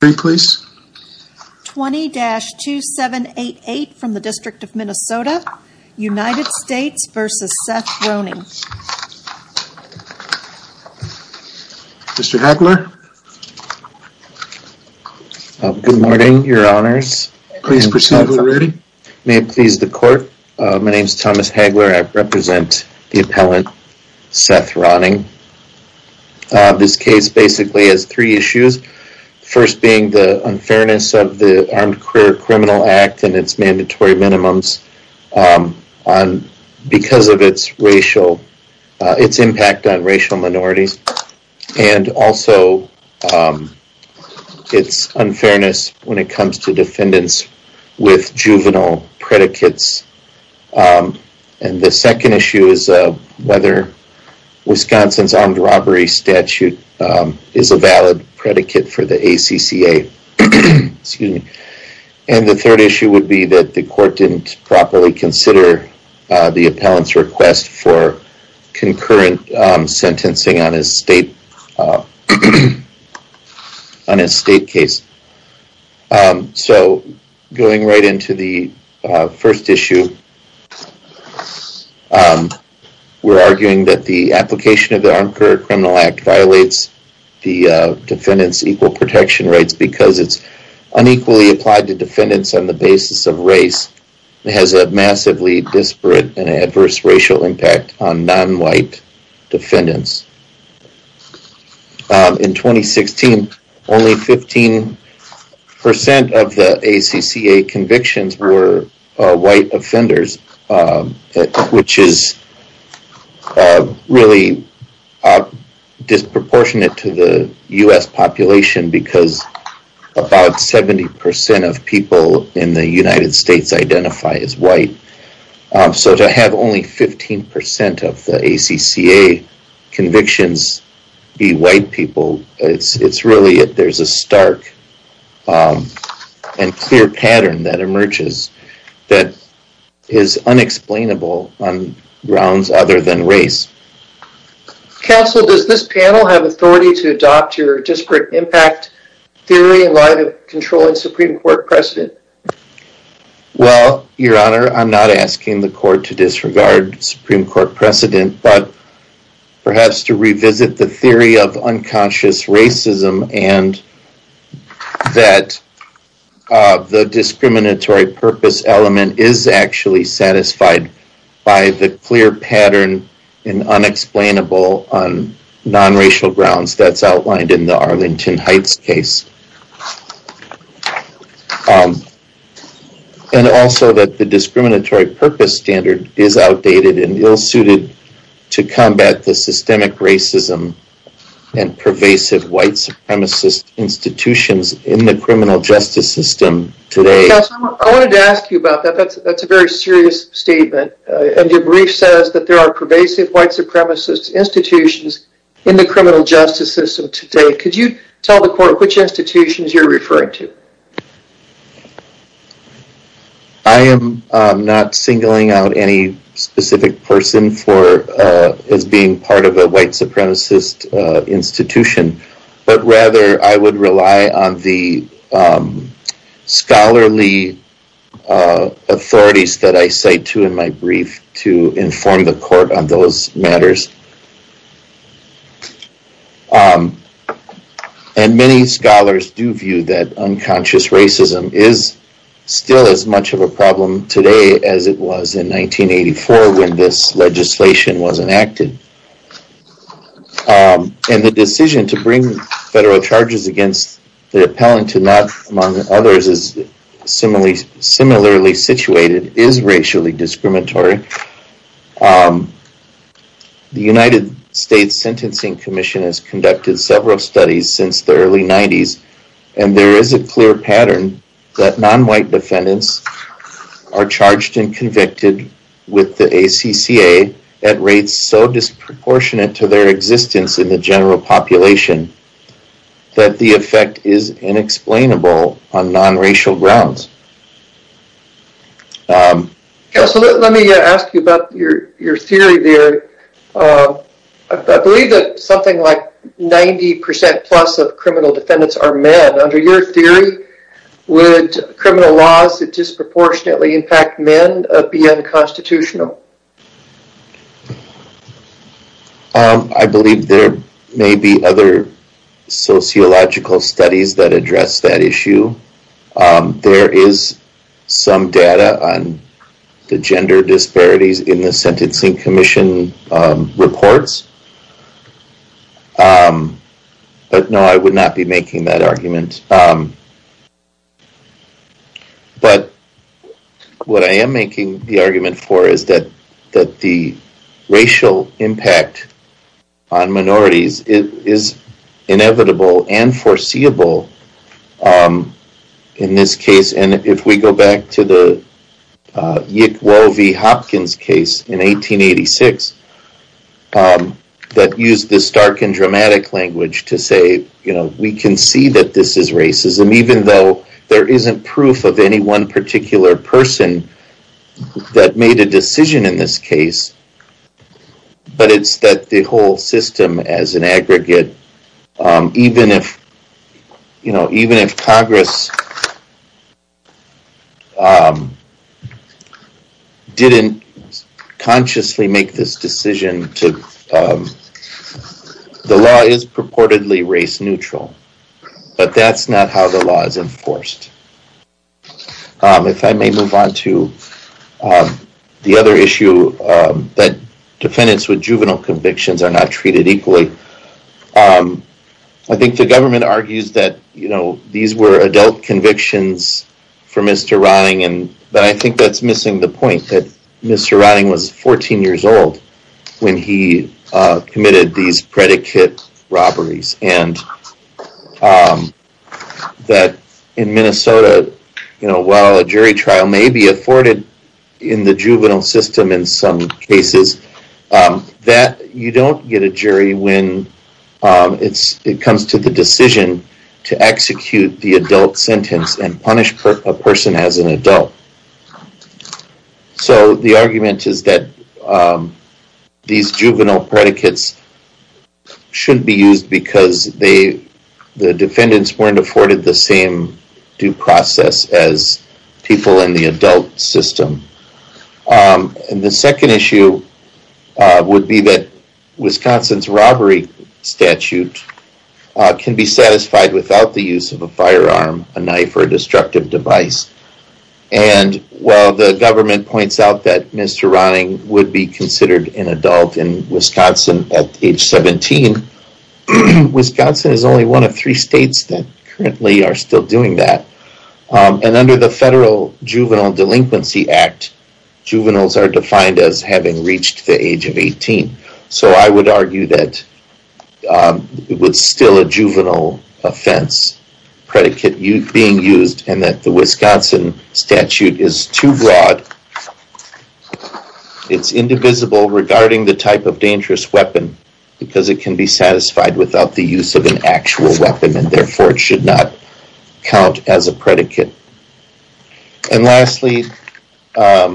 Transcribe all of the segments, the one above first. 20-2788 from the District of Minnesota. United States v. Seth Ronning. Mr. Hagler. Good morning, your honors. Please proceed with your reading. May it please the court. My name is Thomas Hagler. I represent the appellant Seth Ronning. This case basically has three issues. First being the unfairness of the Armed Career Criminal Act and its mandatory minimums because of its impact on racial minorities. And also its unfairness when it comes to defendants with juvenile predicates. And the second issue is whether Wisconsin's armed robbery statute is a valid predicate for the ACCA. And the third issue would be that the court didn't properly consider the appellant's request for concurrent sentencing on his state case. So, going right into the first issue, we are arguing that the application of the ACCA violates the defendants' equal protection rights because it is unequally applied to defendants on the basis of race and has a massively disparate and adverse racial impact on non-white defendants. In 2016, only 15% of the ACCA convictions were white offenders, which is really disproportionate to the U.S. population because about 70% of people in the United States identify as white. So, to have only 15% of the ACCA convictions be white people, there is a stark and clear pattern that emerges that is unexplainable on grounds other than race. Counsel, does this panel have authority to adopt your disparate impact theory in light of controlling Supreme Court precedent? Well, Your Honor, I'm not asking the court to disregard Supreme Court precedent, but perhaps to revisit the theory of unconscious racism and that the discriminatory purpose element is actually satisfied by the clear pattern and unexplainable on non-racial grounds that's outlined in the Arlington Heights case. And also that the discriminatory purpose standard is outdated and ill-suited to combat the systemic racism and pervasive white supremacist institutions in the criminal justice system today. Counsel, I wanted to ask you about that. That's a very serious statement. And your brief says that there are pervasive white supremacist institutions in the criminal justice system today. Could you tell the court which institutions you're referring to? I am not singling out any specific person as being part of a white supremacist institution, but rather I would rely on the scholarly authorities that I cite to in my brief to inform the court on those matters. And many scholars do view that unconscious racism is still as much of a problem today as it was in 1984 when this legislation was enacted. And the decision to bring federal charges against the appellant to not, among others, is similarly situated is racially discriminatory. The United States Sentencing Commission has conducted several studies since the early 90s and there is a clear pattern that non-white defendants are charged and convicted with the ACCA at rates so disproportionate to their existence in the general population that the effect is inexplainable on non-racial grounds. Counsel, let me ask you about your theory there. I believe that something like 90% plus of criminal defendants are men. Under your theory, would criminal laws that disproportionately impact men be unconstitutional? I believe there may be other sociological studies that address that issue. There is some data on the gender disparities in the Sentencing Commission reports, but no I would not be making that argument. But what I am making the argument for is that the racial impact on minorities is inevitable and foreseeable in this case. And if we go back to the Yick Woe v. Hopkins case in 1886 that used this stark and dramatic language to say we can see that this is racism even though there isn't proof of any one particular person that made a decision in this case. But it's that the whole system as an aggregate, even if Congress didn't consciously make this decision, the law is purportedly race neutral. But that's not how the law is enforced. If I may move on to the other issue that defendants with juvenile convictions are not treated equally. I think the government argues that these were adult convictions for Mr. Ronning, but I think that's missing the point that Mr. Ronning was 14 years old when he committed these predicate robberies. And that in Minnesota, while a jury trial may be afforded in the juvenile system in some cases, that you don't get a jury when it comes to the decision to execute the adult sentence and punish a person as an adult. So the argument is that these juvenile predicates shouldn't be used because the defendants weren't afforded the same due process as people in the adult system. And the second issue would be that Wisconsin's robbery statute can be satisfied without the use of a firearm, a knife, or a destructive device. And while the government points out that Mr. Ronning would be considered an adult in Wisconsin at age 17, Wisconsin is only one of three states that currently are still doing that. And under the Federal Juvenile Delinquency Act, juveniles are defined as having reached the age of 18. So I would argue that it's still a juvenile offense predicate being used and that the Wisconsin statute is too broad. It's indivisible regarding the type of dangerous weapon because it can be satisfied without the use of an actual weapon and therefore it should not count as a predicate. And lastly, the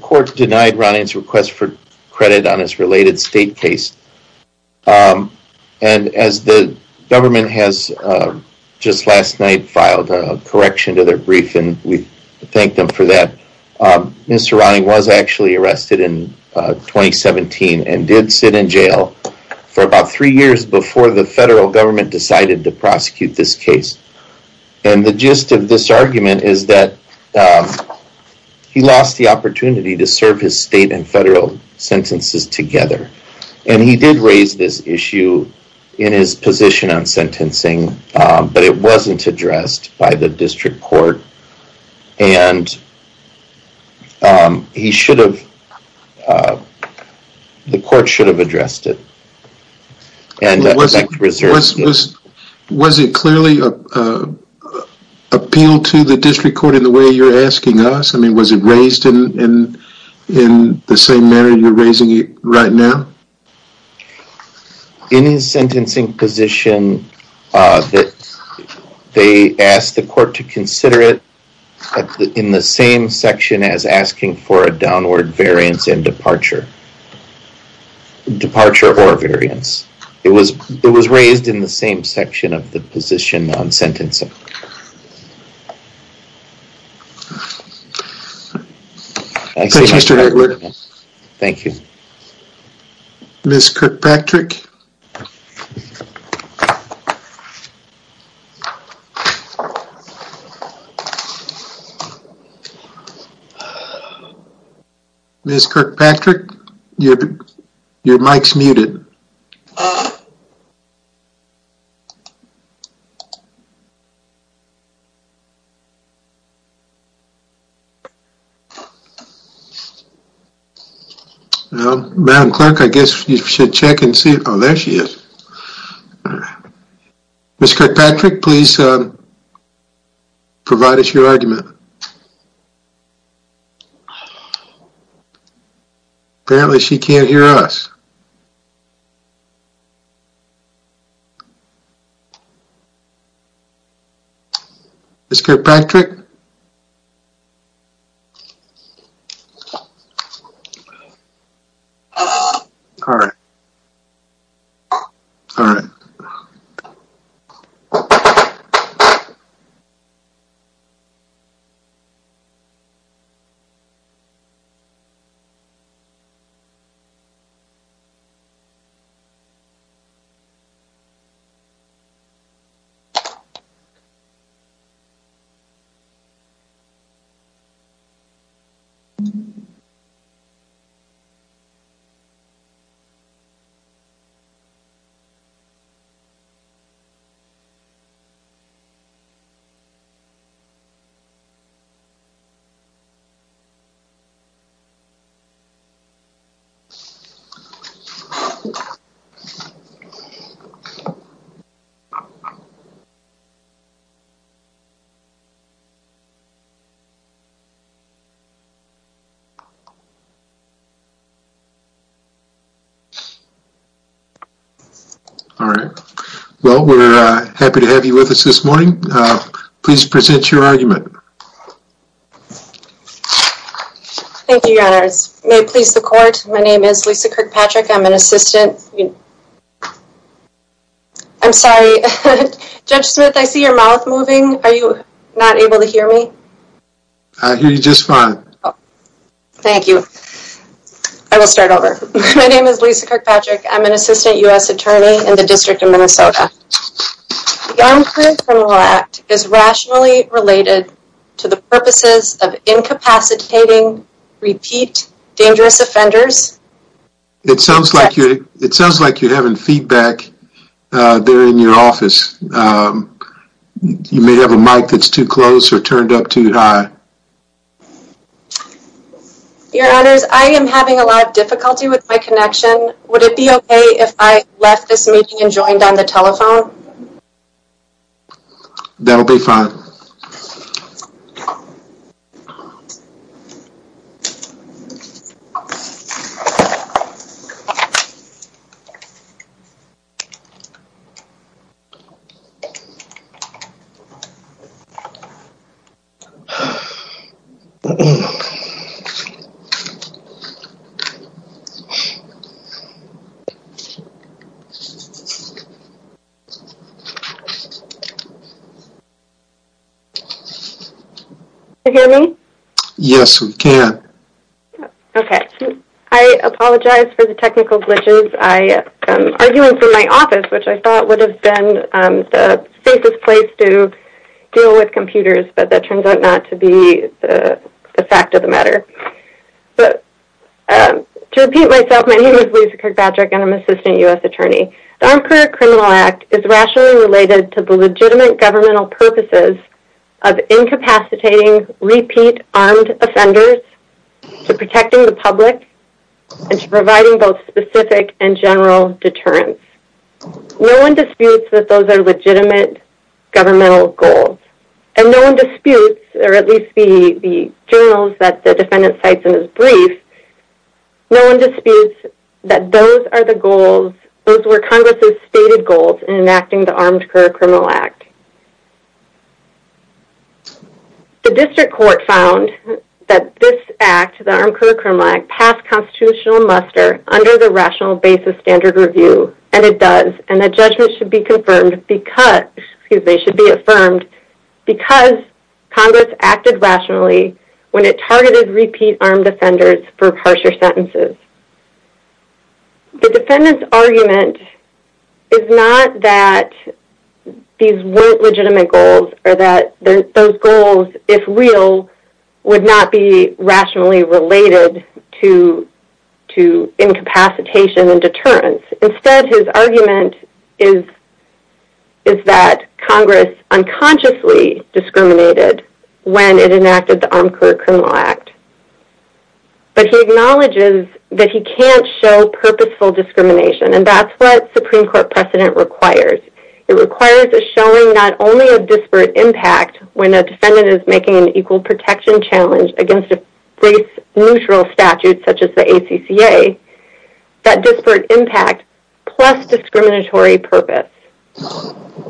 court denied Ronning's request for credit on his related state case and as the government has just last night filed a correction to their brief and we thank them for that. Mr. Ronning was actually arrested in 2017 and did sit in jail for about three years before the federal government decided to prosecute this case. And the gist of this argument is that he lost the opportunity to serve his state and federal sentences together and he did raise this issue in his position on sentencing but it wasn't addressed by the district court and the court should have addressed it. Was it clearly appealed to the district court in the way you're asking us? Was it raised in the same manner you're raising it right now? In his sentencing position, they asked the court to consider it in the same section as asking for a downward variance and departure. Departure or variance. It was raised in the same section of the position on sentencing. Thank you. Mr. Heckler. Thank you. Ms. Kirkpatrick. Ms. Kirkpatrick, your mic's muted. Well, Madam Clerk, I guess you should check and see. Oh, there she is. Ms. Kirkpatrick, please provide us your argument. Apparently, she can't hear us. Ms. Kirkpatrick? All right. All right. All right. All right. Well, we're happy to have you with us this morning. Please present your argument. Thank you, Your Honor. May it please the court, my name is Lisa Kirkpatrick. I'm an assistant. I'm sorry. Judge Smith, I see your mouth moving. Are you not able to hear me? I hear you just fine. Thank you. I will start over. My name is Lisa Kirkpatrick. I'm an assistant U.S. attorney in the District of Minnesota. The Young Criminal Act is rationally related to the purposes of incapacitating, repeat, dangerous offenders. It sounds like you're having feedback there in your office. You may have a mic that's too close or turned up too high. Your Honors, I am having a lot of difficulty with my connection. Would it be okay if I left this meeting and joined on the telephone? That will be fine. Okay. Can you hear me? Yes, we can. Okay. I apologize for the technical glitches. Arguing for my office, which I thought would have been the safest place to deal with computers, but that turns out not to be the fact of the matter. To repeat myself, my name is Lisa Kirkpatrick and I'm an assistant U.S. attorney. The Armed Career Criminal Act is rationally related to the legitimate governmental purposes of incapacitating, repeat, armed offenders, to protecting the public, and to providing both specific and general deterrence. No one disputes that those are legitimate governmental goals. And no one disputes, or at least the journals that the defendant cites in his brief, no one disputes that those are the goals, those were Congress's stated goals in enacting the Armed Career Criminal Act. The district court found that this act, the Armed Career Criminal Act, passed constitutional muster under the Rational Basis Standard Review, and it does, and that judgment should be confirmed because, excuse me, should be affirmed because Congress acted rationally when it targeted repeat armed offenders for harsher sentences. The defendant's argument is not that these weren't legitimate goals or that those goals, if real, would not be rationally related to incapacitation and deterrence. Instead, his argument is that Congress unconsciously discriminated when it enacted the Armed Career Criminal Act. But he acknowledges that he can't show purposeful discrimination, and that's what Supreme Court precedent requires. It requires a showing not only of disparate impact when a defendant is making an equal protection challenge against a race-neutral statute such as the ACCA, that disparate impact plus discriminatory purpose.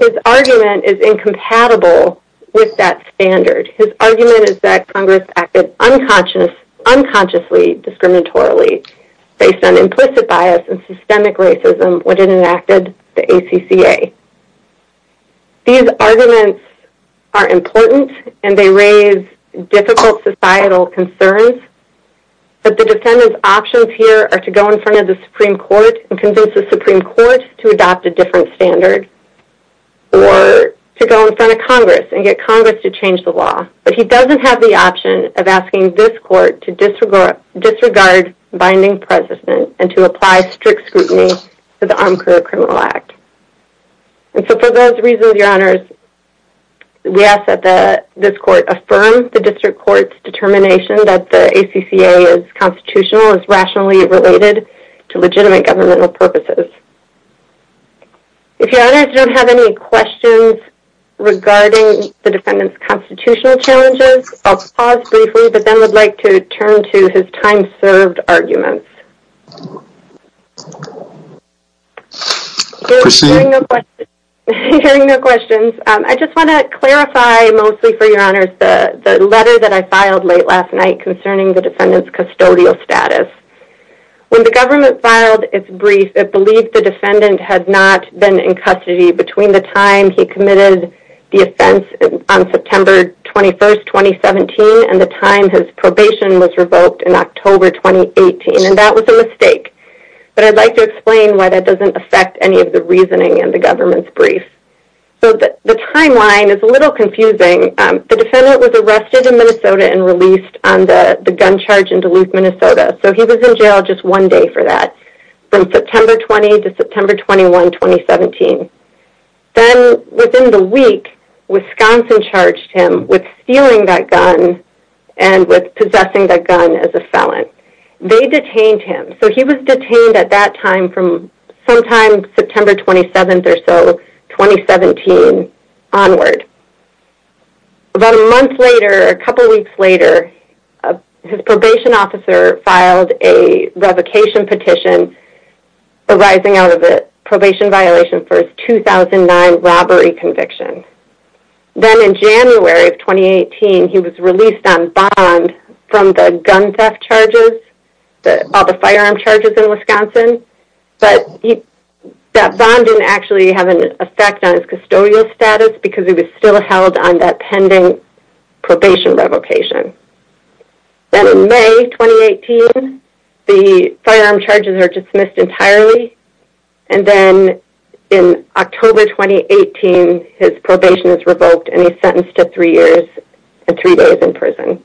His argument is incompatible with that standard. His argument is that Congress acted unconsciously discriminatorily based on implicit bias and systemic racism when it enacted the ACCA. These arguments are important and they raise difficult societal concerns, but the defendant's options here are to go in front of the Supreme Court and convince the Supreme Court to adopt a different standard or to go in front of Congress and get Congress to change the law. But he doesn't have the option of asking this court to disregard binding precedent and to apply strict scrutiny to the Armed Career Criminal Act. And so for those reasons, Your Honors, we ask that this court affirm the district court's determination that the ACCA is constitutional, is rationally related to legitimate governmental purposes. If Your Honors don't have any questions regarding the defendant's constitutional challenges, I'll pause briefly, but then would like to turn to his time-served arguments. Hearing no questions, I just want to clarify mostly for Your Honors the letter that I filed late last night concerning the defendant's custodial status. When the government filed its brief, it believed the defendant had not been in custody between the time he committed the offense on September 21, 2017 and the time his probation was revoked in October 2018, and that was a mistake. But I'd like to explain why that doesn't affect any of the reasoning in the government's brief. So the timeline is a little confusing. The defendant was arrested in Minnesota and released on the gun charge in Duluth, Minnesota. So he was in jail just one day for that, from September 20 to September 21, 2017. Then within the week, Wisconsin charged him with stealing that gun and with possessing that gun as a felon. They detained him, so he was detained at that time from sometime September 27 or so, 2017, onward. About a month later, a couple weeks later, his probation officer filed a revocation petition arising out of a probation violation for his 2009 robbery conviction. Then in January of 2018, he was released on bond from the gun theft charges, all the firearm charges in Wisconsin, but that bond didn't actually have an effect on his custodial status because he was still held on that pending probation revocation. Then in May 2018, the firearm charges are dismissed entirely, and then in October 2018, his probation is revoked and he's sentenced to three years and three days in prison.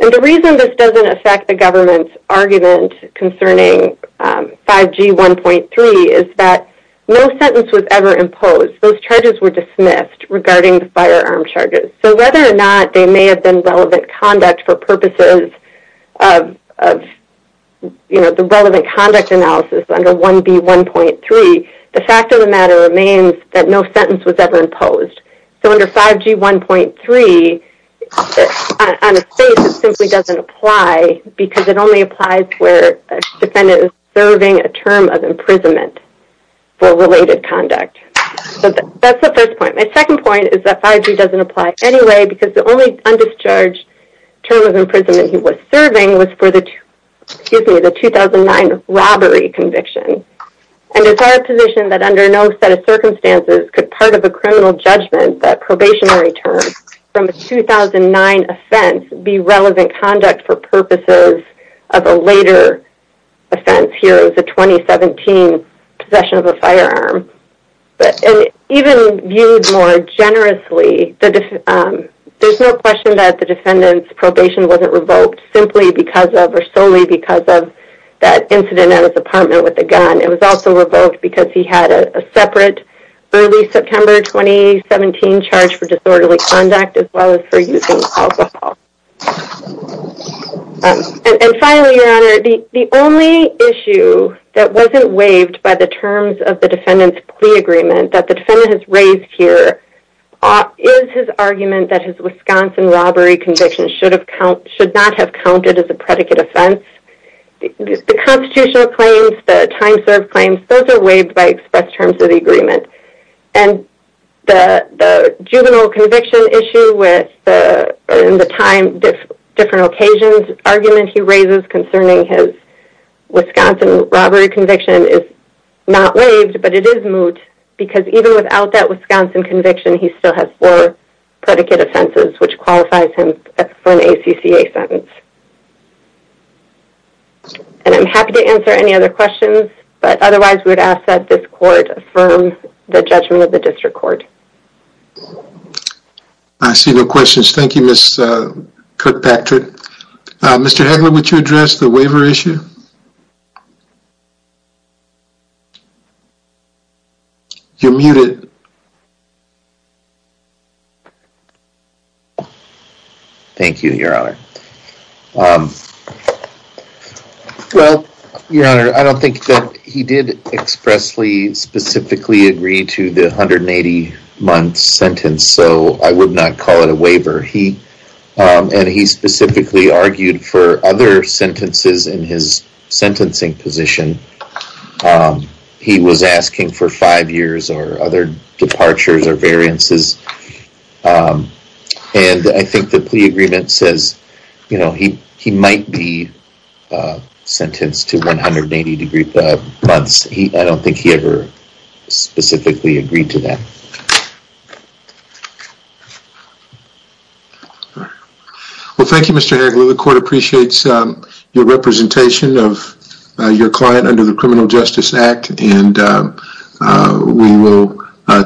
And the reason this doesn't affect the government's argument concerning 5G 1.3 is that no sentence was ever imposed. Those charges were dismissed regarding the firearm charges. So whether or not they may have been relevant conduct for purposes of the relevant conduct analysis under 1B 1.3, the fact of the matter remains that no sentence was ever imposed. So under 5G 1.3, on its face, it simply doesn't apply because it only applies where a defendant is serving a term of imprisonment for related conduct. So that's the first point. My second point is that 5G doesn't apply anyway because the only undischarged term of imprisonment he was serving was for the 2009 robbery conviction. And it's our position that under no set of circumstances could part of a criminal judgment, that probationary term, from a 2009 offense be relevant conduct for purposes of a later offense. Here is a 2017 possession of a firearm. And even viewed more generously, there's no question that the defendant's probation wasn't revoked simply because of or solely because of that incident at his apartment with the gun. It was also revoked because he had a separate early September 2017 charge for disorderly conduct as well as for using alcohol. And finally, Your Honor, the only issue that wasn't waived by the terms of the defendant's plea agreement that the defendant has raised here is his argument that his Wisconsin robbery conviction should not have counted as a predicate offense. The constitutional claims, the time served claims, those are waived by express terms of the agreement. And the juvenile conviction issue with the time, different occasions argument he raises concerning his Wisconsin robbery conviction is not waived, but it is moot because even without that Wisconsin conviction he still has four predicate offenses which qualifies him for an ACCA sentence. And I'm happy to answer any other questions, but otherwise we would ask that this court affirm the judgment of the district court. I see no questions. Thank you, Ms. Kirkpatrick. Mr. Hagler, would you address the waiver issue? You're muted. Thank you, Your Honor. Well, Your Honor, I don't think that he did expressly specifically agree to the 180 month sentence, so I would not call it a waiver. And he specifically argued for other sentences in his sentencing position. He was asking for five years or other departures or variances. And I think the plea agreement says he might be sentenced to 180 months. I don't think he ever specifically agreed to that. Well, thank you, Mr. Hagler. The court appreciates your representation of your client under the Criminal Justice Act. And we will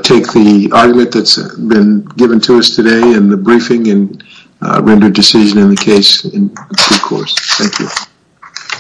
take the argument that's been given to us today in the briefing and render a decision in the case in due course. Thank you.